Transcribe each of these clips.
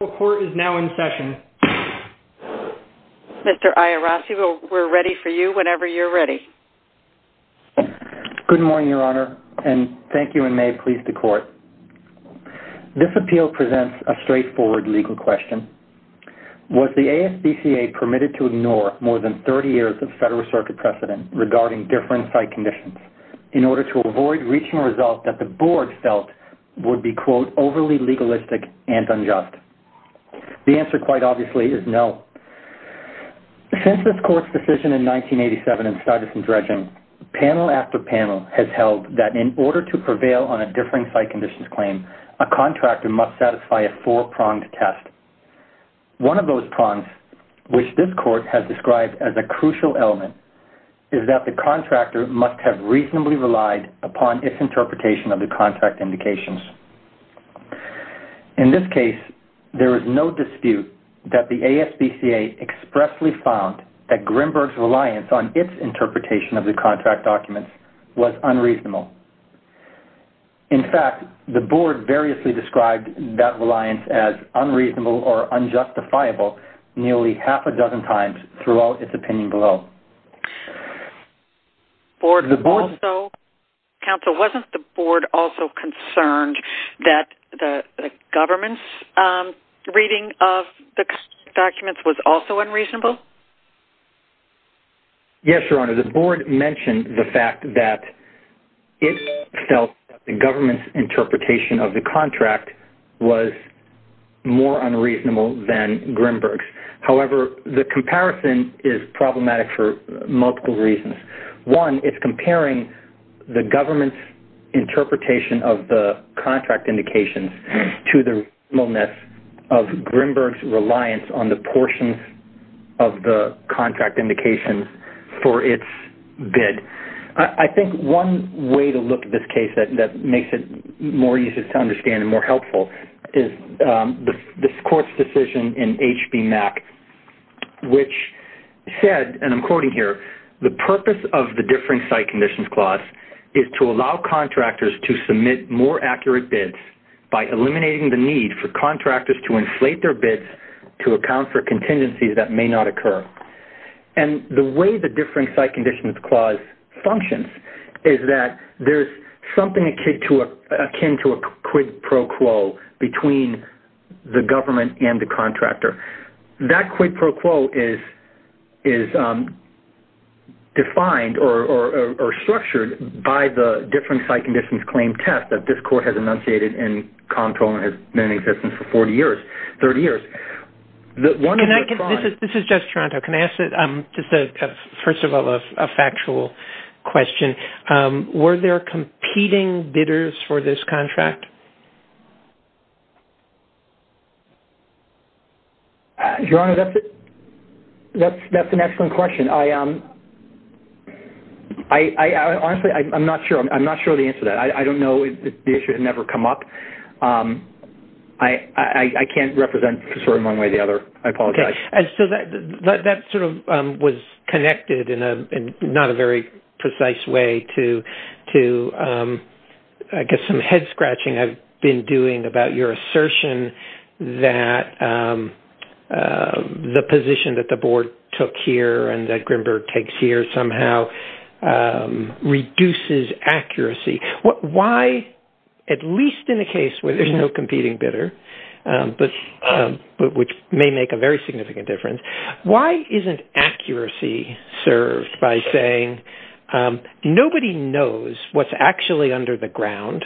The court is now in session. Mr. Iorassi, we're ready for you whenever you're ready. Good morning, Your Honor, and thank you, and may it please the court. This appeal presents a straightforward legal question. Was the ASPCA permitted to ignore more than 30 years of Federal Circuit precedent regarding different site conditions in order to avoid reaching a result that the board felt would be, quote, overly legalistic and unjust? The answer, quite obviously, is no. Since this court's decision in 1987 in Stuyvesant Dredging, panel after panel has held that in order to prevail on a differing site conditions claim, a contractor must satisfy a four-pronged test. One of those prongs, which this court has described as a crucial element, is that the contractor must have reasonably relied upon its interpretation of the contract indications. In this case, there is no dispute that the ASPCA expressly found that Grimberg's reliance on its interpretation of the contract documents was unreasonable. In fact, the board variously described that reliance as unreasonable or unjustifiable nearly half a dozen times throughout its opinion below. Counsel, wasn't the board also concerned that the government's reading of the documents was also unreasonable? Yes, Your Honor, the board mentioned the fact that it felt that the government's interpretation of the contract was more unreasonable than Grimberg's. However, the comparison is problematic for multiple reasons. One, it's comparing the government's interpretation of the contract indications to the reasonableness of Grimberg's reliance on the portions of the contract indications for its bid. I think one way to look at this case that makes it more easy to understand and more helpful is this court's decision in HB MAC, which said, and I'm quoting here, the purpose of the differing site conditions clause is to allow contractors to submit more accurate bids by eliminating the need for contractors to inflate their bids to account for contingencies that may not occur. And the way the differing site conditions clause functions is that there's something akin to a quid pro quo between the government and the contractor. That quid pro quo is defined or structured by the differing site conditions claim test that this court has enunciated and has been in existence for 30 years. This is just Toronto. Can I ask, first of all, a factual question? Were there competing bidders for this contract? Your Honor, that's an excellent question. Honestly, I'm not sure of the answer to that. I don't know. The issue has never come up. I can't represent the story in one way or the other. I apologize. And so that sort of was connected in not a very precise way to, I guess, some head scratching I've been doing about your assertion that the position that the board took here and that Grimberg takes here somehow reduces accuracy. Why, at least in a case where there's no competing bidder, which may make a very significant difference, why isn't accuracy served by saying nobody knows what's actually under the ground?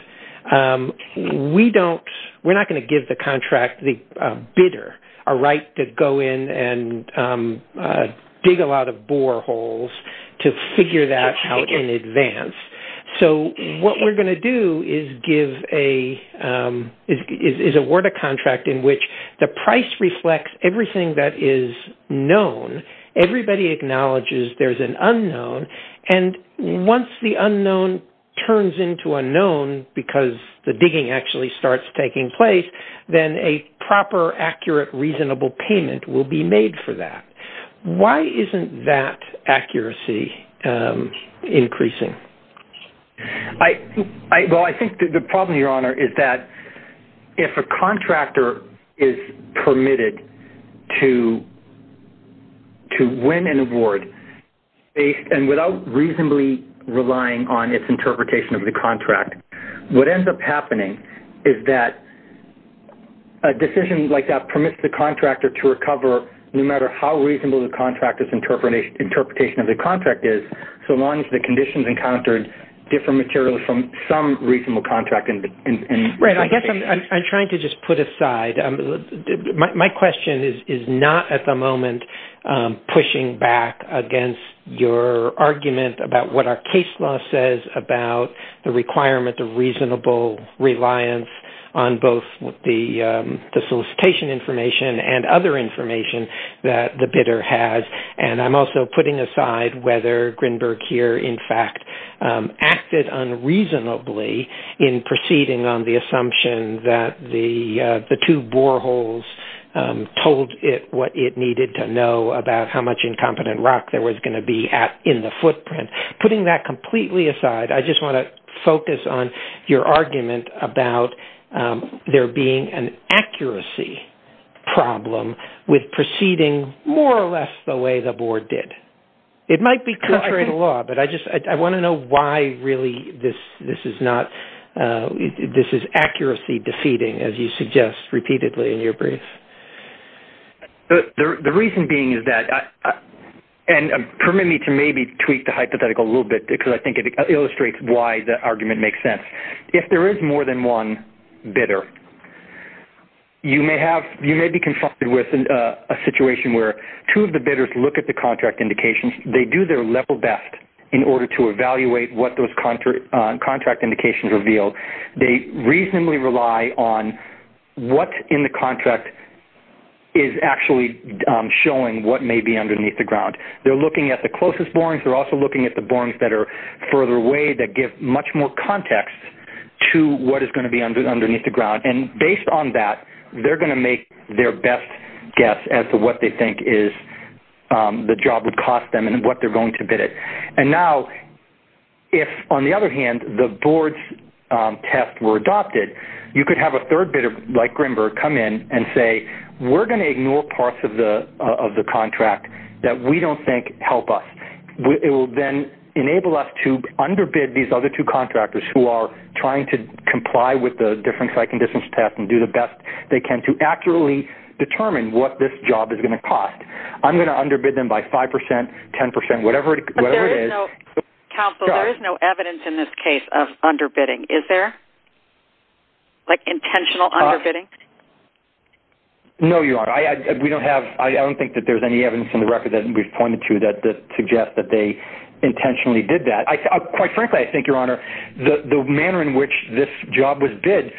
We're not going to give the bidder a right to go in and dig a lot of boreholes to figure that out in advance. So what we're going to do is award a contract in which the price reflects everything that is known. Everybody acknowledges there's an unknown. And once the unknown turns into a known because the digging actually starts taking place, then a proper, accurate, reasonable payment will be made for that. Why isn't that accuracy increasing? Well, I think the problem, Your Honor, is that if a contractor is permitted to win an award and without reasonably relying on its interpretation of the contract, what ends up happening is that a decision like that permits the contractor to recover, no matter how reasonable the contractor's interpretation of the contract is, so long as the conditions encountered differ materially from some reasonable contract. I guess I'm trying to just put aside. My question is not at the moment pushing back against your argument about what our case law says about the requirement of reasonable reliance on both the solicitation information and other information that the bidder has. And I'm also putting aside whether Grinberg here, in fact, acted unreasonably in proceeding on the assumption that the two boreholes told it what it needed to know about how much incompetent rock there was going to be in the footprint. Putting that completely aside, I just want to focus on your argument about there being an accuracy problem with proceeding more or less the way the board did. It might be contrary to law, but I want to know why really this is accuracy defeating, as you suggest repeatedly in your brief. The reason being is that, and permit me to maybe tweak the hypothetical a little bit because I think it illustrates why the argument makes sense. If there is more than one bidder, you may be confronted with a situation where two of the bidders look at the contract indications. They do their level best in order to evaluate what those contract indications reveal. They reasonably rely on what in the contract is actually showing what may be underneath the ground. They're looking at the closest borings. They're also looking at the borings that are further away that give much more context to what is going to be underneath the ground. And based on that, they're going to make their best guess as to what they think the job would cost them and what they're going to bid at. And now if, on the other hand, the board's tests were adopted, you could have a third bidder like Grimberg come in and say, we're going to ignore parts of the contract that we don't think help us. It will then enable us to underbid these other two contractors who are trying to comply with the different site conditions test and do the best they can to accurately determine what this job is going to cost. I'm going to underbid them by 5%, 10%, whatever it is. But there is no evidence in this case of underbidding, is there? Like intentional underbidding? No, Your Honor. I don't think that there's any evidence in the record that we've pointed to that suggests that they intentionally did that. Quite frankly, I think, Your Honor, the manner in which this job was bid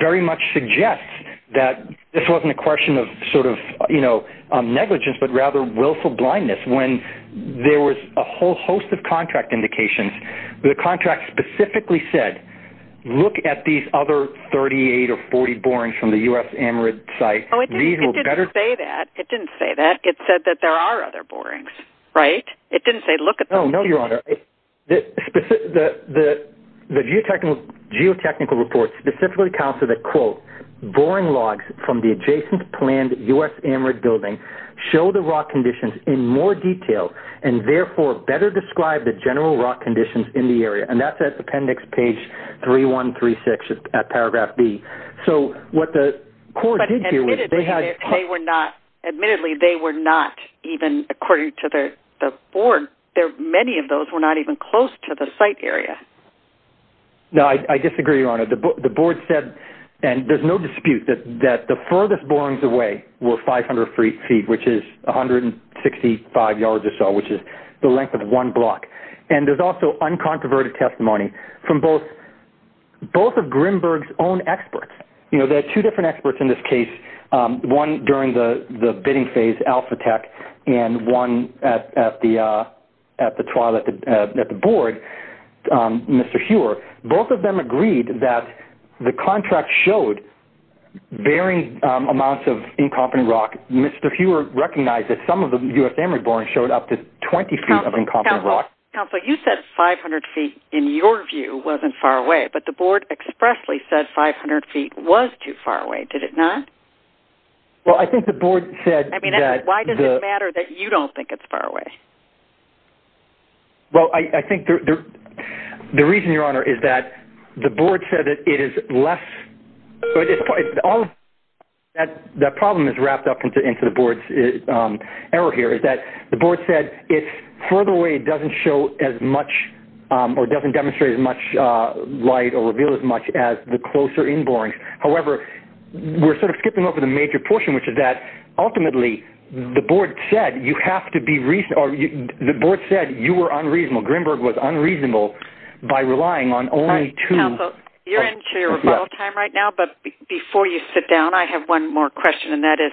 very much suggests that this wasn't a question of sort of negligence but rather willful blindness. When there was a whole host of contract indications, the contract specifically said, look at these other 38 or 40 borings from the U.S. Amarid site. It didn't say that. It didn't say that. It said that there are other borings, right? It didn't say look at those. No, Your Honor. The geotechnical report specifically counseled that, quote, boring logs from the adjacent planned U.S. Amarid building show the raw conditions in more detail and therefore better describe the general raw conditions in the area. And that's at appendix page 3136 at paragraph B. So what the court did here was they had- Admittedly, they were not even, according to the board, many of those were not even close to the site area. No, I disagree, Your Honor. The board said, and there's no dispute, that the furthest borings away were 500 feet, which is 165 yards or so, which is the length of one block. And there's also uncontroverted testimony from both of Grimberg's own experts. You know, there are two different experts in this case, one during the bidding phase, Alphatech, and one at the trial at the board, Mr. Huer. Both of them agreed that the contract showed varying amounts of incomplete rock. Mr. Huer recognized that some of the U.S. Amarid borings showed up to 20 feet of incomplete rock. Counsel, you said 500 feet, in your view, wasn't far away, but the board expressly said 500 feet was too far away. Did it not? Well, I think the board said that- I mean, why does it matter that you don't think it's far away? Well, I think the reason, Your Honor, is that the board said it is less- That problem is wrapped up into the board's error here, is that the board said it's further away doesn't show as much, or doesn't demonstrate as much light or reveal as much as the closer inborings. However, we're sort of skipping over the major portion, which is that ultimately the board said you have to be- The board said you were unreasonable. Grimberg was unreasonable by relying on only two- Counsel, you're into your rebuttal time right now, but before you sit down, I have one more question, and that is,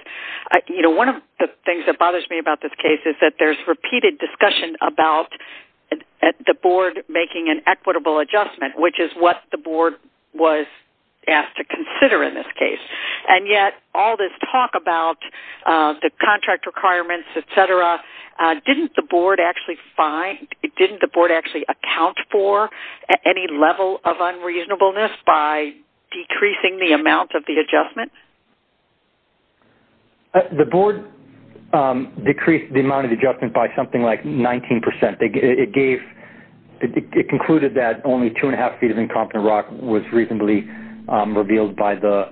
you know, one of the things that bothers me about this case is that there's repeated discussion about the board making an equitable adjustment, which is what the board was asked to consider in this case, and yet all this talk about the contract requirements, et cetera, didn't the board actually find- didn't the board actually account for any level of unreasonableness by decreasing the amount of the adjustment? The board decreased the amount of adjustment by something like 19%. It gave-it concluded that only two-and-a-half feet of incompetent rock was reasonably revealed by the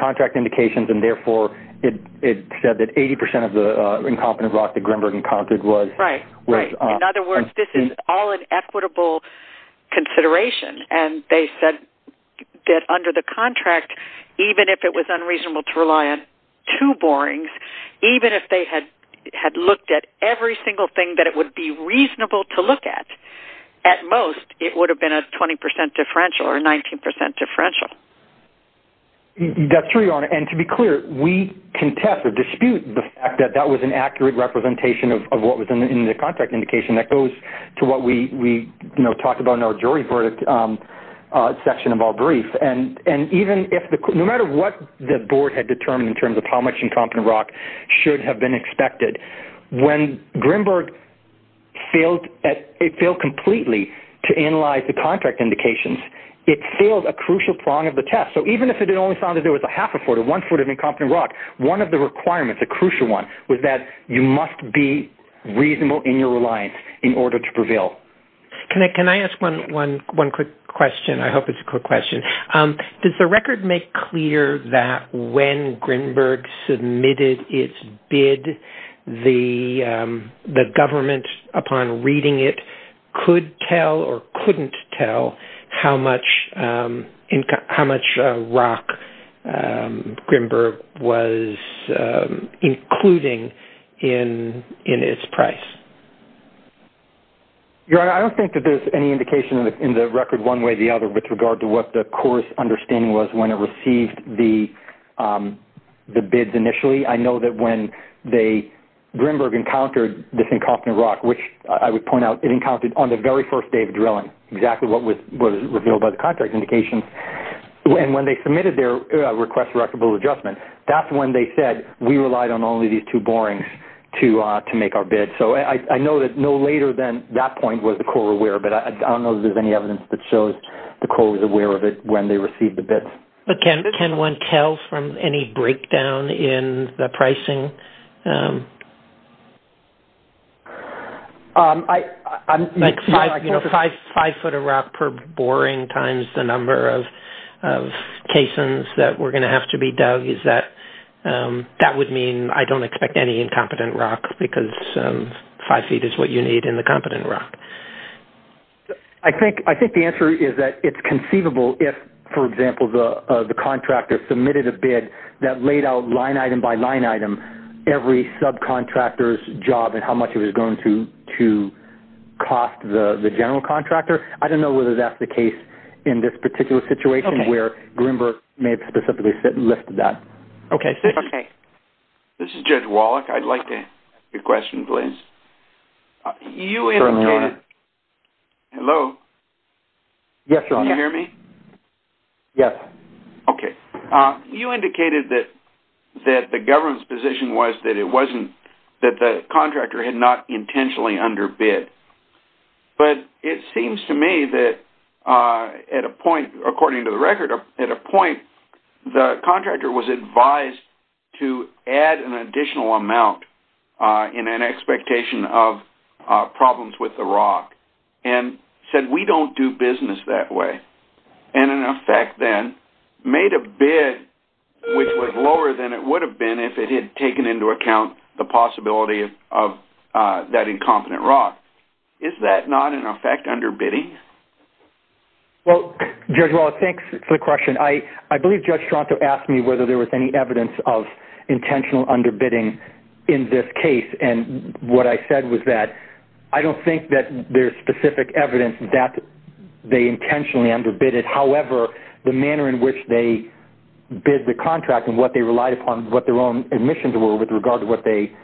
contract indications, and therefore it said that 80% of the incompetent rock that Grimberg encountered was- Right, right. In other words, this is all an equitable consideration, and they said that under the contract, even if it was unreasonable to rely on two borings, even if they had looked at every single thing that it would be reasonable to look at, at most, it would have been a 20% differential or a 19% differential. That's true, Your Honor, and to be clear, we contest or dispute the fact that that was an accurate representation of what was in the contract indication. That goes to what we, you know, talked about in our jury verdict section of our brief, and even if-no matter what the board had determined in terms of how much incompetent rock should have been expected, when Grimberg failed at-it failed completely to analyze the contract indications, it failed a crucial prong of the test. So even if it only found that there was a half a foot or one foot of incompetent rock, one of the requirements, the crucial one, was that you must be reasonable in your reliance in order to prevail. Can I ask one quick question? I hope it's a quick question. Does the record make clear that when Grimberg submitted its bid, the government, upon reading it, could tell or couldn't tell how much rock Grimberg was including in its price? Your Honor, I don't think that there's any indication in the record, one way or the other, with regard to what the core understanding was when it received the bids initially. I know that when Grimberg encountered this incompetent rock, which I would point out, it encountered on the very first day of drilling exactly what was revealed by the contract indications, and when they submitted their request for equitable adjustment, that's when they said we relied on only these two borings to make our bid. So I know that no later than that point was the core aware, but I don't know that there's any evidence that shows the core was aware of it when they received the bids. Can one tell from any breakdown in the pricing? Like five foot of rock per boring times the number of caissons that were going to have to be dug, that would mean I don't expect any incompetent rock, because five feet is what you need in the competent rock. I think the answer is that it's conceivable if, for example, the contractor submitted a bid that laid out line item by line item every subcontractor's job and how much it was going to cost the general contractor. I don't know whether that's the case in this particular situation where Grimberg may have specifically listed that. Okay. This is Judge Wallach. I'd like to ask a question, please. You indicated... Hello? Yes, Your Honor. Can you hear me? Yes. Okay. You indicated that the government's position was that it wasn't, that the contractor had not intentionally underbid. But it seems to me that at a point, according to the record, at a point the contractor was advised to add an additional amount in an expectation of problems with the rock and said, we don't do business that way, and in effect then made a bid which was lower than it would have been if it had taken into account the possibility of that incompetent rock. Is that not, in effect, underbidding? Well, Judge Wallach, thanks for the question. I believe Judge Toronto asked me whether there was any evidence of intentional underbidding in this case. And what I said was that I don't think that there's specific evidence that they intentionally underbid it. However, the manner in which they bid the contract and what they relied upon, what their own admissions were, with regard to what they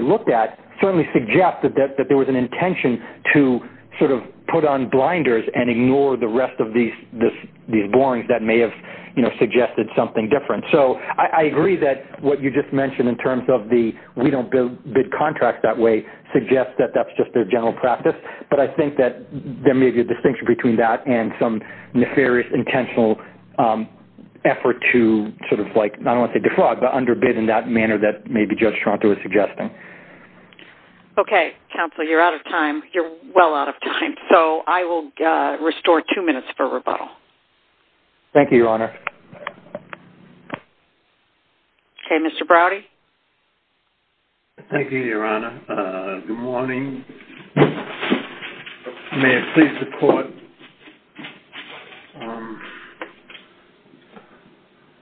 looked at, certainly suggested that there was an intention to sort of put on blinders and ignore the rest of these borings that may have, you know, I agree that what you just mentioned in terms of the, we don't bid contracts that way, suggests that that's just their general practice. But I think that there may be a distinction between that and some nefarious intentional effort to sort of like, I don't want to say defraud, but underbid in that manner that maybe Judge Toronto was suggesting. Okay, counsel, you're out of time. You're well out of time. So I will restore two minutes for rebuttal. Thank you, Your Honor. Okay, Mr. Browdy. Thank you, Your Honor. Good morning. May it please the Court.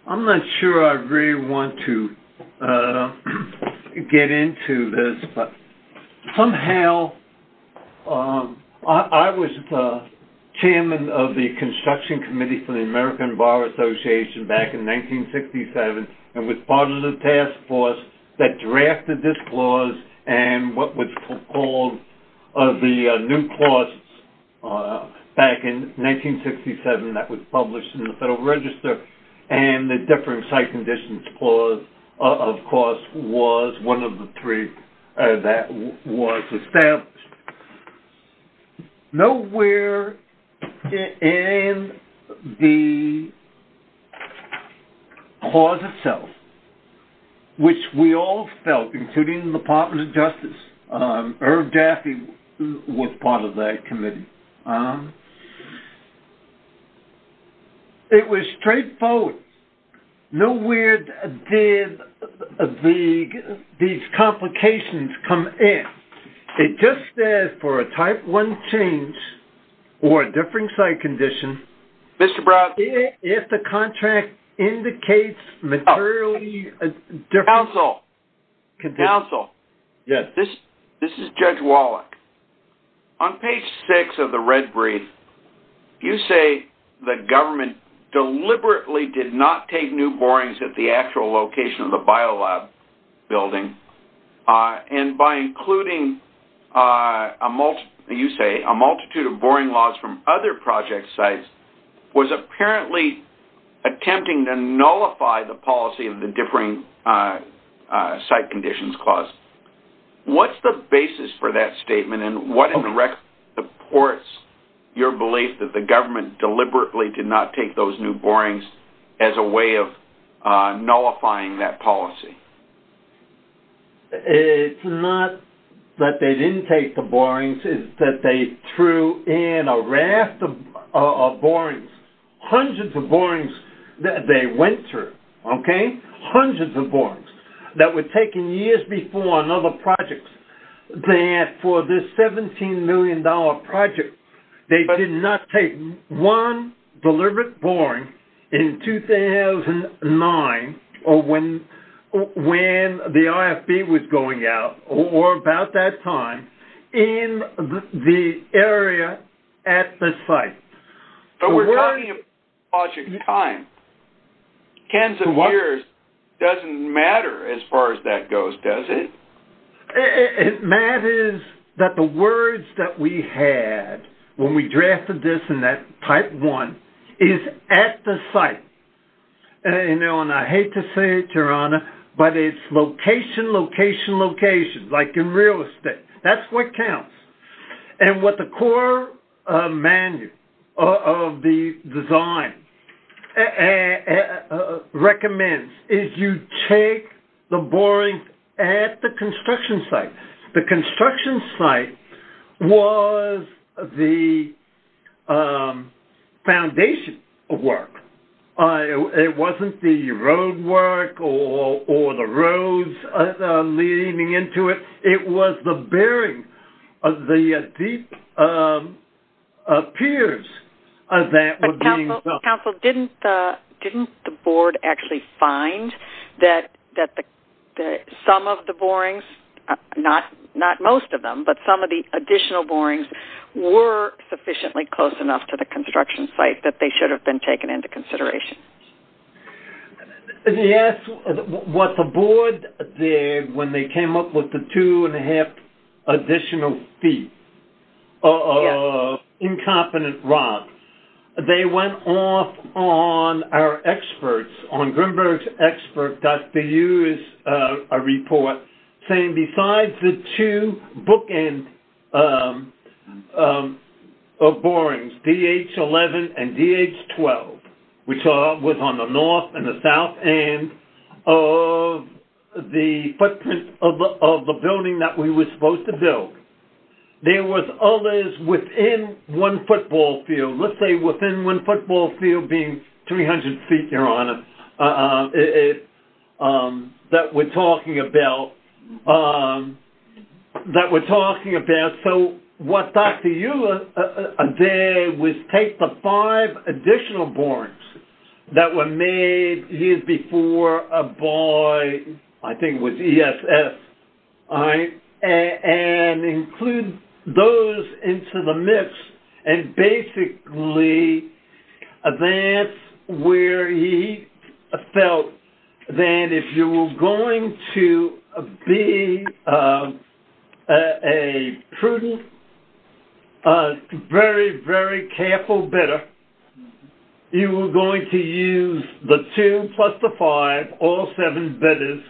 I'm not sure I really want to get into this, but somehow I was the chairman of the construction committee for the American Bar Association back in 1967 and was part of the task force that drafted this clause and what was called the new clause back in 1967 that was published in the Federal Register. And the differing site conditions clause, of course, was one of the three that was established. Nowhere in the clause itself, which we all felt, including the Department of Justice, Herb Jaffe was part of that committee. It was straightforward. Nowhere did these complications come in. It just says for a type one change or a differing site condition, if the contract indicates materially a different condition. Counsel, counsel. Yes. This is Judge Wallach. On page six of the red brief, you say the government deliberately did not take new borings at the actual location of the biolab building and by including, you say, a multitude of boring laws from other project sites, was apparently attempting to nullify the policy of the differing site conditions clause. What's the basis for that statement and what supports your belief that the government deliberately did not take those new borings as a way of nullifying that policy? It's not that they didn't take the borings. It's that they threw in a raft of borings, hundreds of borings that they went through, okay, hundreds of borings that were taken years before on other projects that for this $17 million project, they did not take one deliberate boring in 2009 or when the IFB was going out or about that time in the area at the site. But we're talking about project time. Tens of years doesn't matter as far as that goes, does it? It matters that the words that we had when we drafted this in that Type 1 is at the site. And I hate to say it, Your Honor, but it's location, location, location, like in real estate. That's what counts. And what the core manual of the design recommends is you take the borings at the construction site. The construction site was the foundation work. It wasn't the road work or the roads leading into it. It was the bearing of the deep piers that were being built. Counsel, didn't the Board actually find that some of the borings, not most of them, but some of the additional borings were sufficiently close enough to the construction site that they should have been taken into consideration? Yes. What the Board did when they came up with the two-and-a-half additional feet of incompetent rocks, they went off on our experts, on Grinbergsexpert.edu's report, saying besides the two bookend of borings, DH-11 and DH-12, which was on the north and the south end of the footprint of the building that we were supposed to build, there was others within one football field. Let's say within one football field being 300 feet, Your Honor, that we're talking about. That we're talking about. So what Dr. Euler did was take the five additional borings that were made years before by, I think it was ESS, and include those into the mix, and basically that's where he felt that if you were going to be a prudent, very, very careful bidder, you were going to use the two plus the five, all seven bidders,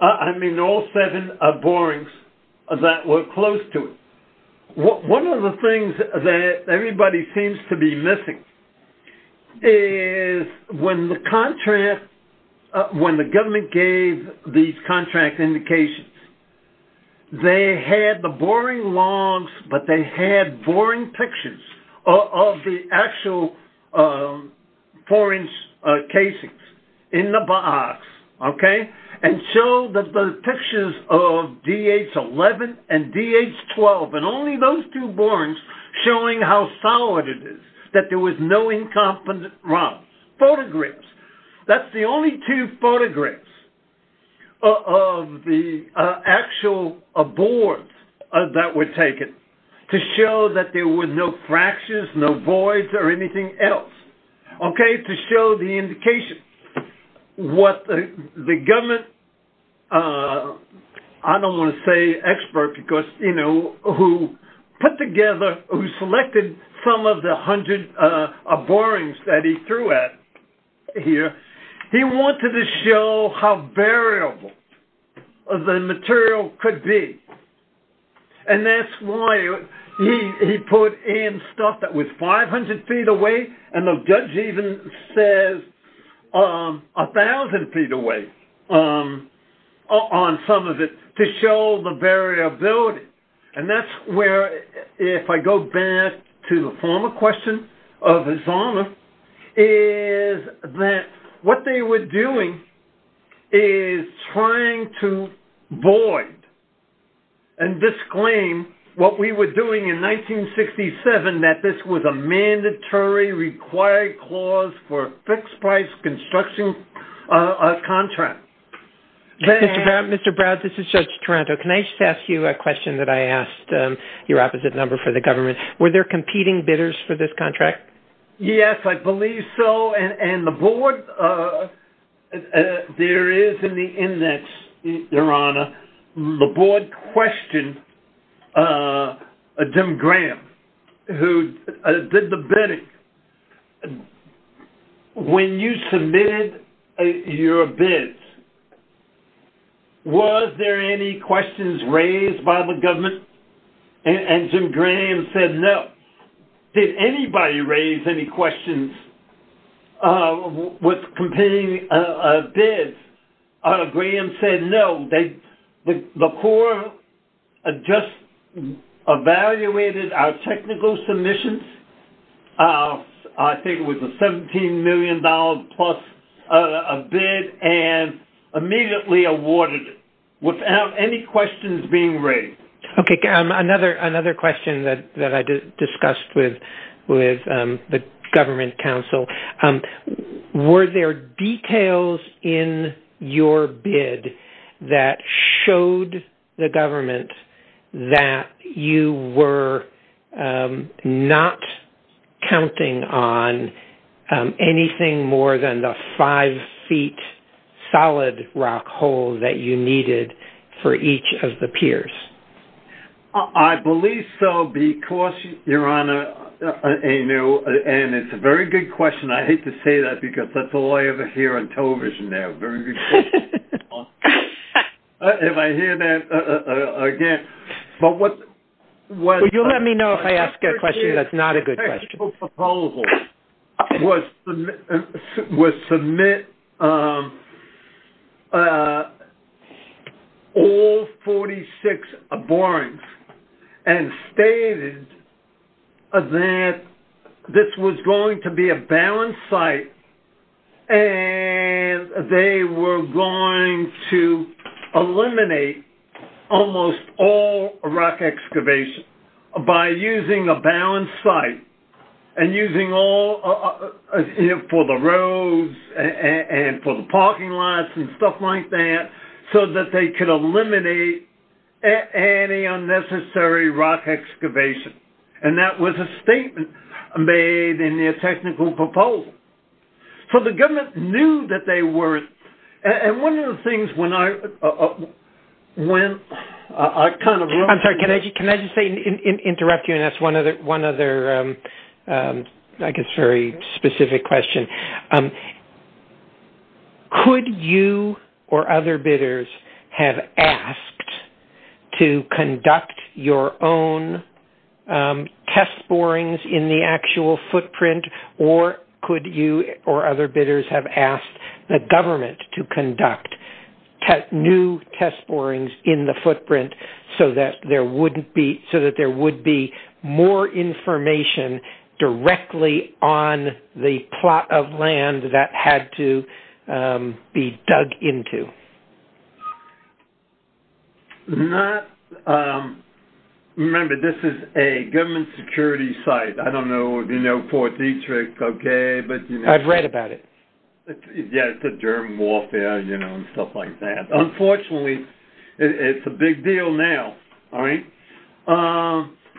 I mean all seven borings that were close to it. One of the things that everybody seems to be missing is when the government gave these contract indications, they had the boring logs, but they had boring pictures of the actual four-inch casings in the box, okay? And show that the pictures of DH 11 and DH 12, and only those two borings showing how solid it is, that there was no incompetent runs. Photographs. That's the only two photographs of the actual boards that were taken to show that there were no fractures, no voids, or anything else, okay? So he wanted to show the indication. What the government, I don't want to say expert, because you know, who put together, who selected some of the 100 borings that he threw at it here, he wanted to show how variable the material could be, and that's why he put in stuff that was 500 feet away, and the judge even says 1,000 feet away on some of it, to show the variability. And that's where, if I go back to the former question of Zahner, is that what they were doing is trying to void and disclaim what we were doing in 1967, that this was a mandatory required clause for a fixed-price construction contract. Mr. Brown, this is Judge Toronto. Can I just ask you a question that I asked, your opposite number for the government. Were there competing bidders for this contract? Yes, I believe so, and the board, there is in the index, Your Honor, the board questioned Jim Graham, who did the bidding. When you submitted your bids, were there any questions raised by the government? And Jim Graham said no. Did anybody raise any questions with competing bids? Graham said no. The Corps just evaluated our technical submissions. I think it was a $17 million-plus bid and immediately awarded it without any questions being raised. Okay. Another question that I discussed with the government counsel. Were there details in your bid that showed the government that you were not counting on anything more than the five-feet solid rock hole that you needed for each of the piers? I believe so because, Your Honor, and it's a very good question. I hate to say that because that's all I ever hear on television now. Very good question. If I hear that again. Well, you'll let me know if I ask a question that's not a good question. was submit all 46 borings and stated that this was going to be a balanced site and they were going to eliminate almost all rock excavation by using a balanced site and using all for the roads and for the parking lots and stuff like that so that they could eliminate any unnecessary rock excavation. And that was a statement made in their technical proposal. So the government knew that they were. And one of the things when I went, I kind of... I'm sorry, can I just interrupt you and ask one other, I guess, very specific question. Could you or other bidders have asked to conduct your own test borings in the actual footprint or could you or other bidders have asked the government to conduct new test borings in the footprint so that there would be more information directly on the plot of land that had to be dug into? Not... Remember, this is a government security site. I don't know if you know Fort Detrick, okay, but... I've read about it. Yeah, it's a German warfare, you know, and stuff like that. Unfortunately, it's a big deal now, all right?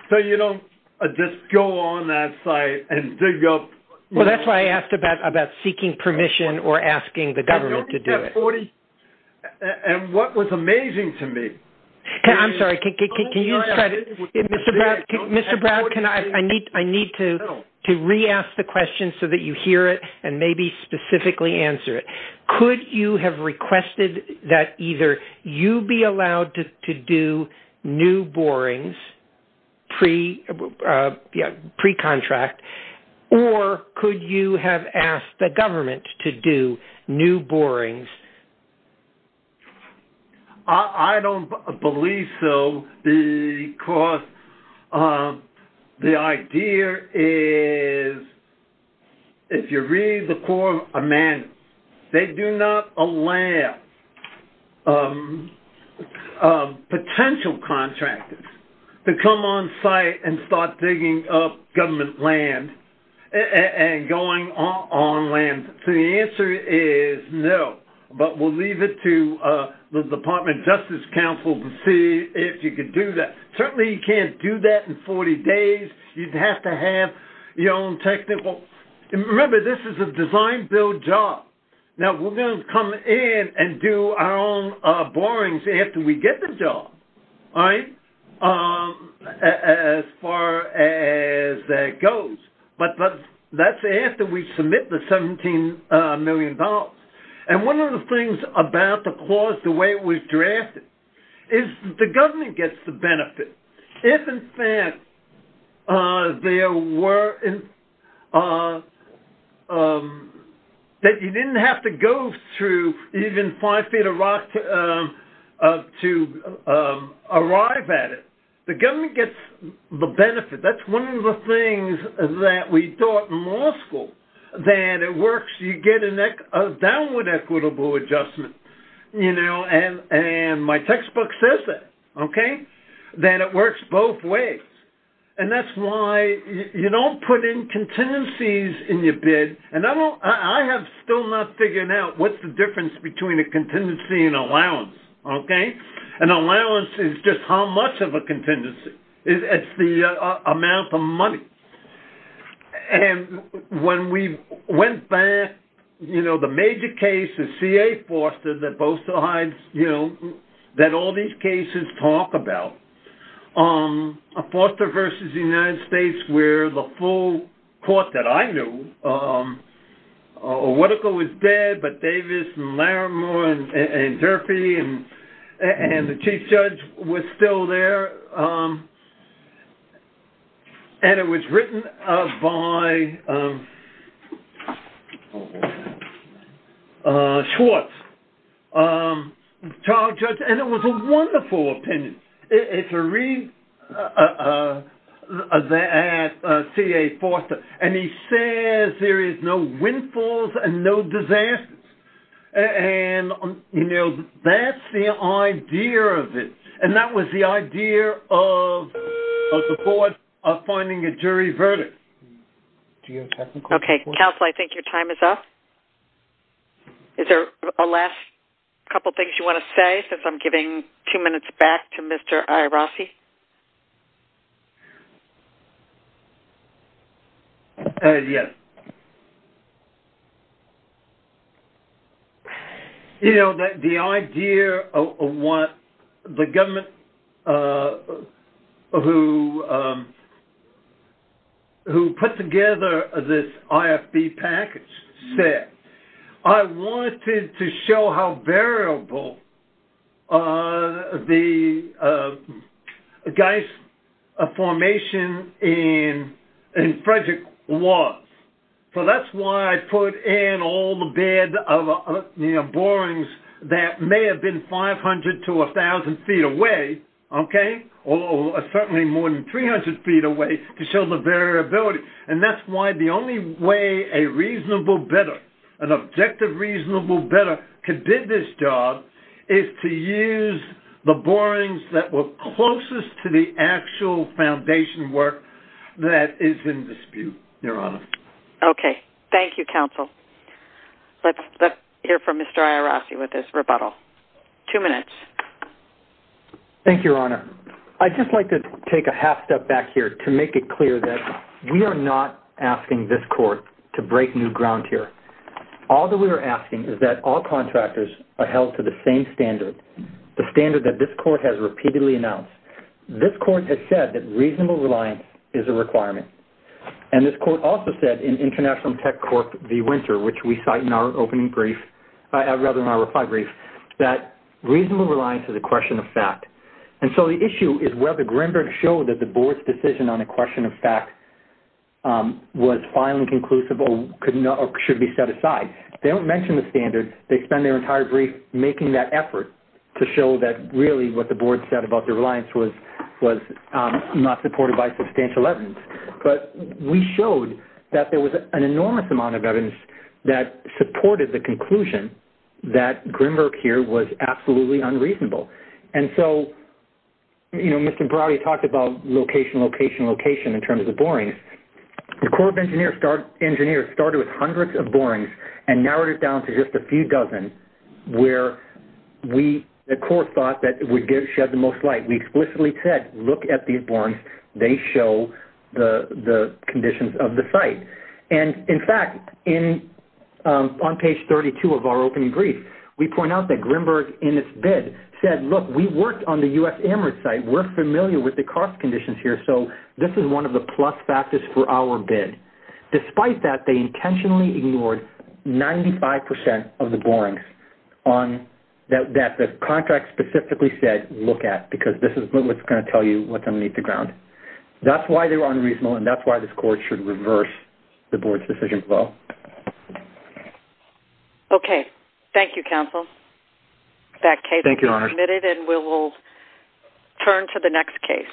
So, you know, just go on that site and dig up... Well, that's why I asked about seeking permission or asking the government to do it. And what was amazing to me... I'm sorry, can you... Mr. Brown, can I... I need to re-ask the question so that you hear it and maybe specifically answer it. Could you have requested that either you be allowed to do new borings pre-contract or could you have asked the government to do new borings? I don't believe so because the idea is if you read the Quorum of Amendments, they do not allow potential contractors to come on site and start digging up government land and going on land. So the answer is no, but we'll leave it to the Department of Justice Counsel to see if you could do that. Certainly you can't do that in 40 days. You'd have to have your own technical... Remember, this is a design-build job. Now, we're going to come in and do our own borings after we get the job, all right, as far as that goes. But that's after we submit the $17 million. And one of the things about the clause, the way it was drafted, is the government gets the benefit. If, in fact, there were... that you didn't have to go through even five feet of rock to arrive at it, the government gets the benefit. That's one of the things that we taught in law school, that it works, you get a downward equitable adjustment. You know, and my textbook says that, okay, that it works both ways. And that's why you don't put in contingencies in your bid, and I have still not figured out what's the difference between a contingency and allowance, okay? An allowance is just how much of a contingency. It's the amount of money. And when we went back, you know, the major case is C.A. Foster that both sides, you know, that all these cases talk about. Foster versus the United States, where the full court that I knew, Orwetka was dead, but Davis and Laramore and Durfee and the chief judge were still there. And it was written by... Schwartz. Child judge, and it was a wonderful opinion. If you read that C.A. Foster, and he says there is no windfalls and no disasters. And, you know, that's the idea of it. And that was the idea of the court finding a jury verdict. Okay, counsel, I think your time is up. Is there a last couple of things you want to say since I'm giving two minutes back to Mr. Irassi? Yes. You know, the idea of what the government who put together this IFB package said, I wanted to show how variable the geist formation in Frederick was. So that's why I put in all the bed of borings that may have been 500 to 1,000 feet away, okay, or certainly more than 300 feet away, to show the variability. And that's why the only way a reasonable bidder, an objective reasonable bidder could bid this job is to use the borings that were closest to the actual foundation work that is in dispute, Your Honor. Okay, thank you, counsel. Let's hear from Mr. Irassi with his rebuttal. Two minutes. Thank you, Your Honor. I'd just like to take a half step back here to make it clear that we are not asking this court to break new ground here. All that we are asking is that all contractors are held to the same standard, the standard that this court has repeatedly announced. This court has said that reasonable reliance is a requirement. And this court also said in International Tech Court v. Winter, which we cite in our opening brief, rather in our reply brief, that reasonable reliance is a question of fact. And so the issue is whether Greenberg showed that the board's decision on a question of fact was final and conclusive or should be set aside. They don't mention the standard. They spend their entire brief making that effort to show that really what the board said about the reliance was not supported by substantial evidence. But we showed that there was an enormous amount of evidence that supported the conclusion that Greenberg here was absolutely unreasonable. And so, you know, Mr. Browdy talked about location, location, location in terms of borings. The Corps of Engineers started with hundreds of borings and narrowed it down to just a few dozen where the Corps thought that it would shed the most light. We explicitly said, look at these borings. They show the conditions of the site. And in fact, on page 32 of our opening brief, we point out that Greenberg in its bid said, look, we worked on the U.S. Amherst site. We're familiar with the cost conditions here, so this is one of the plus factors for our bid. Despite that, they intentionally ignored 95% of the borings that the contract specifically said look at because this is what's going to tell you what's underneath the ground. That's why they were unreasonable and that's why this court should reverse the board's decision flow. Okay. Thank you, counsel. That case has been submitted, and we will turn to the next case.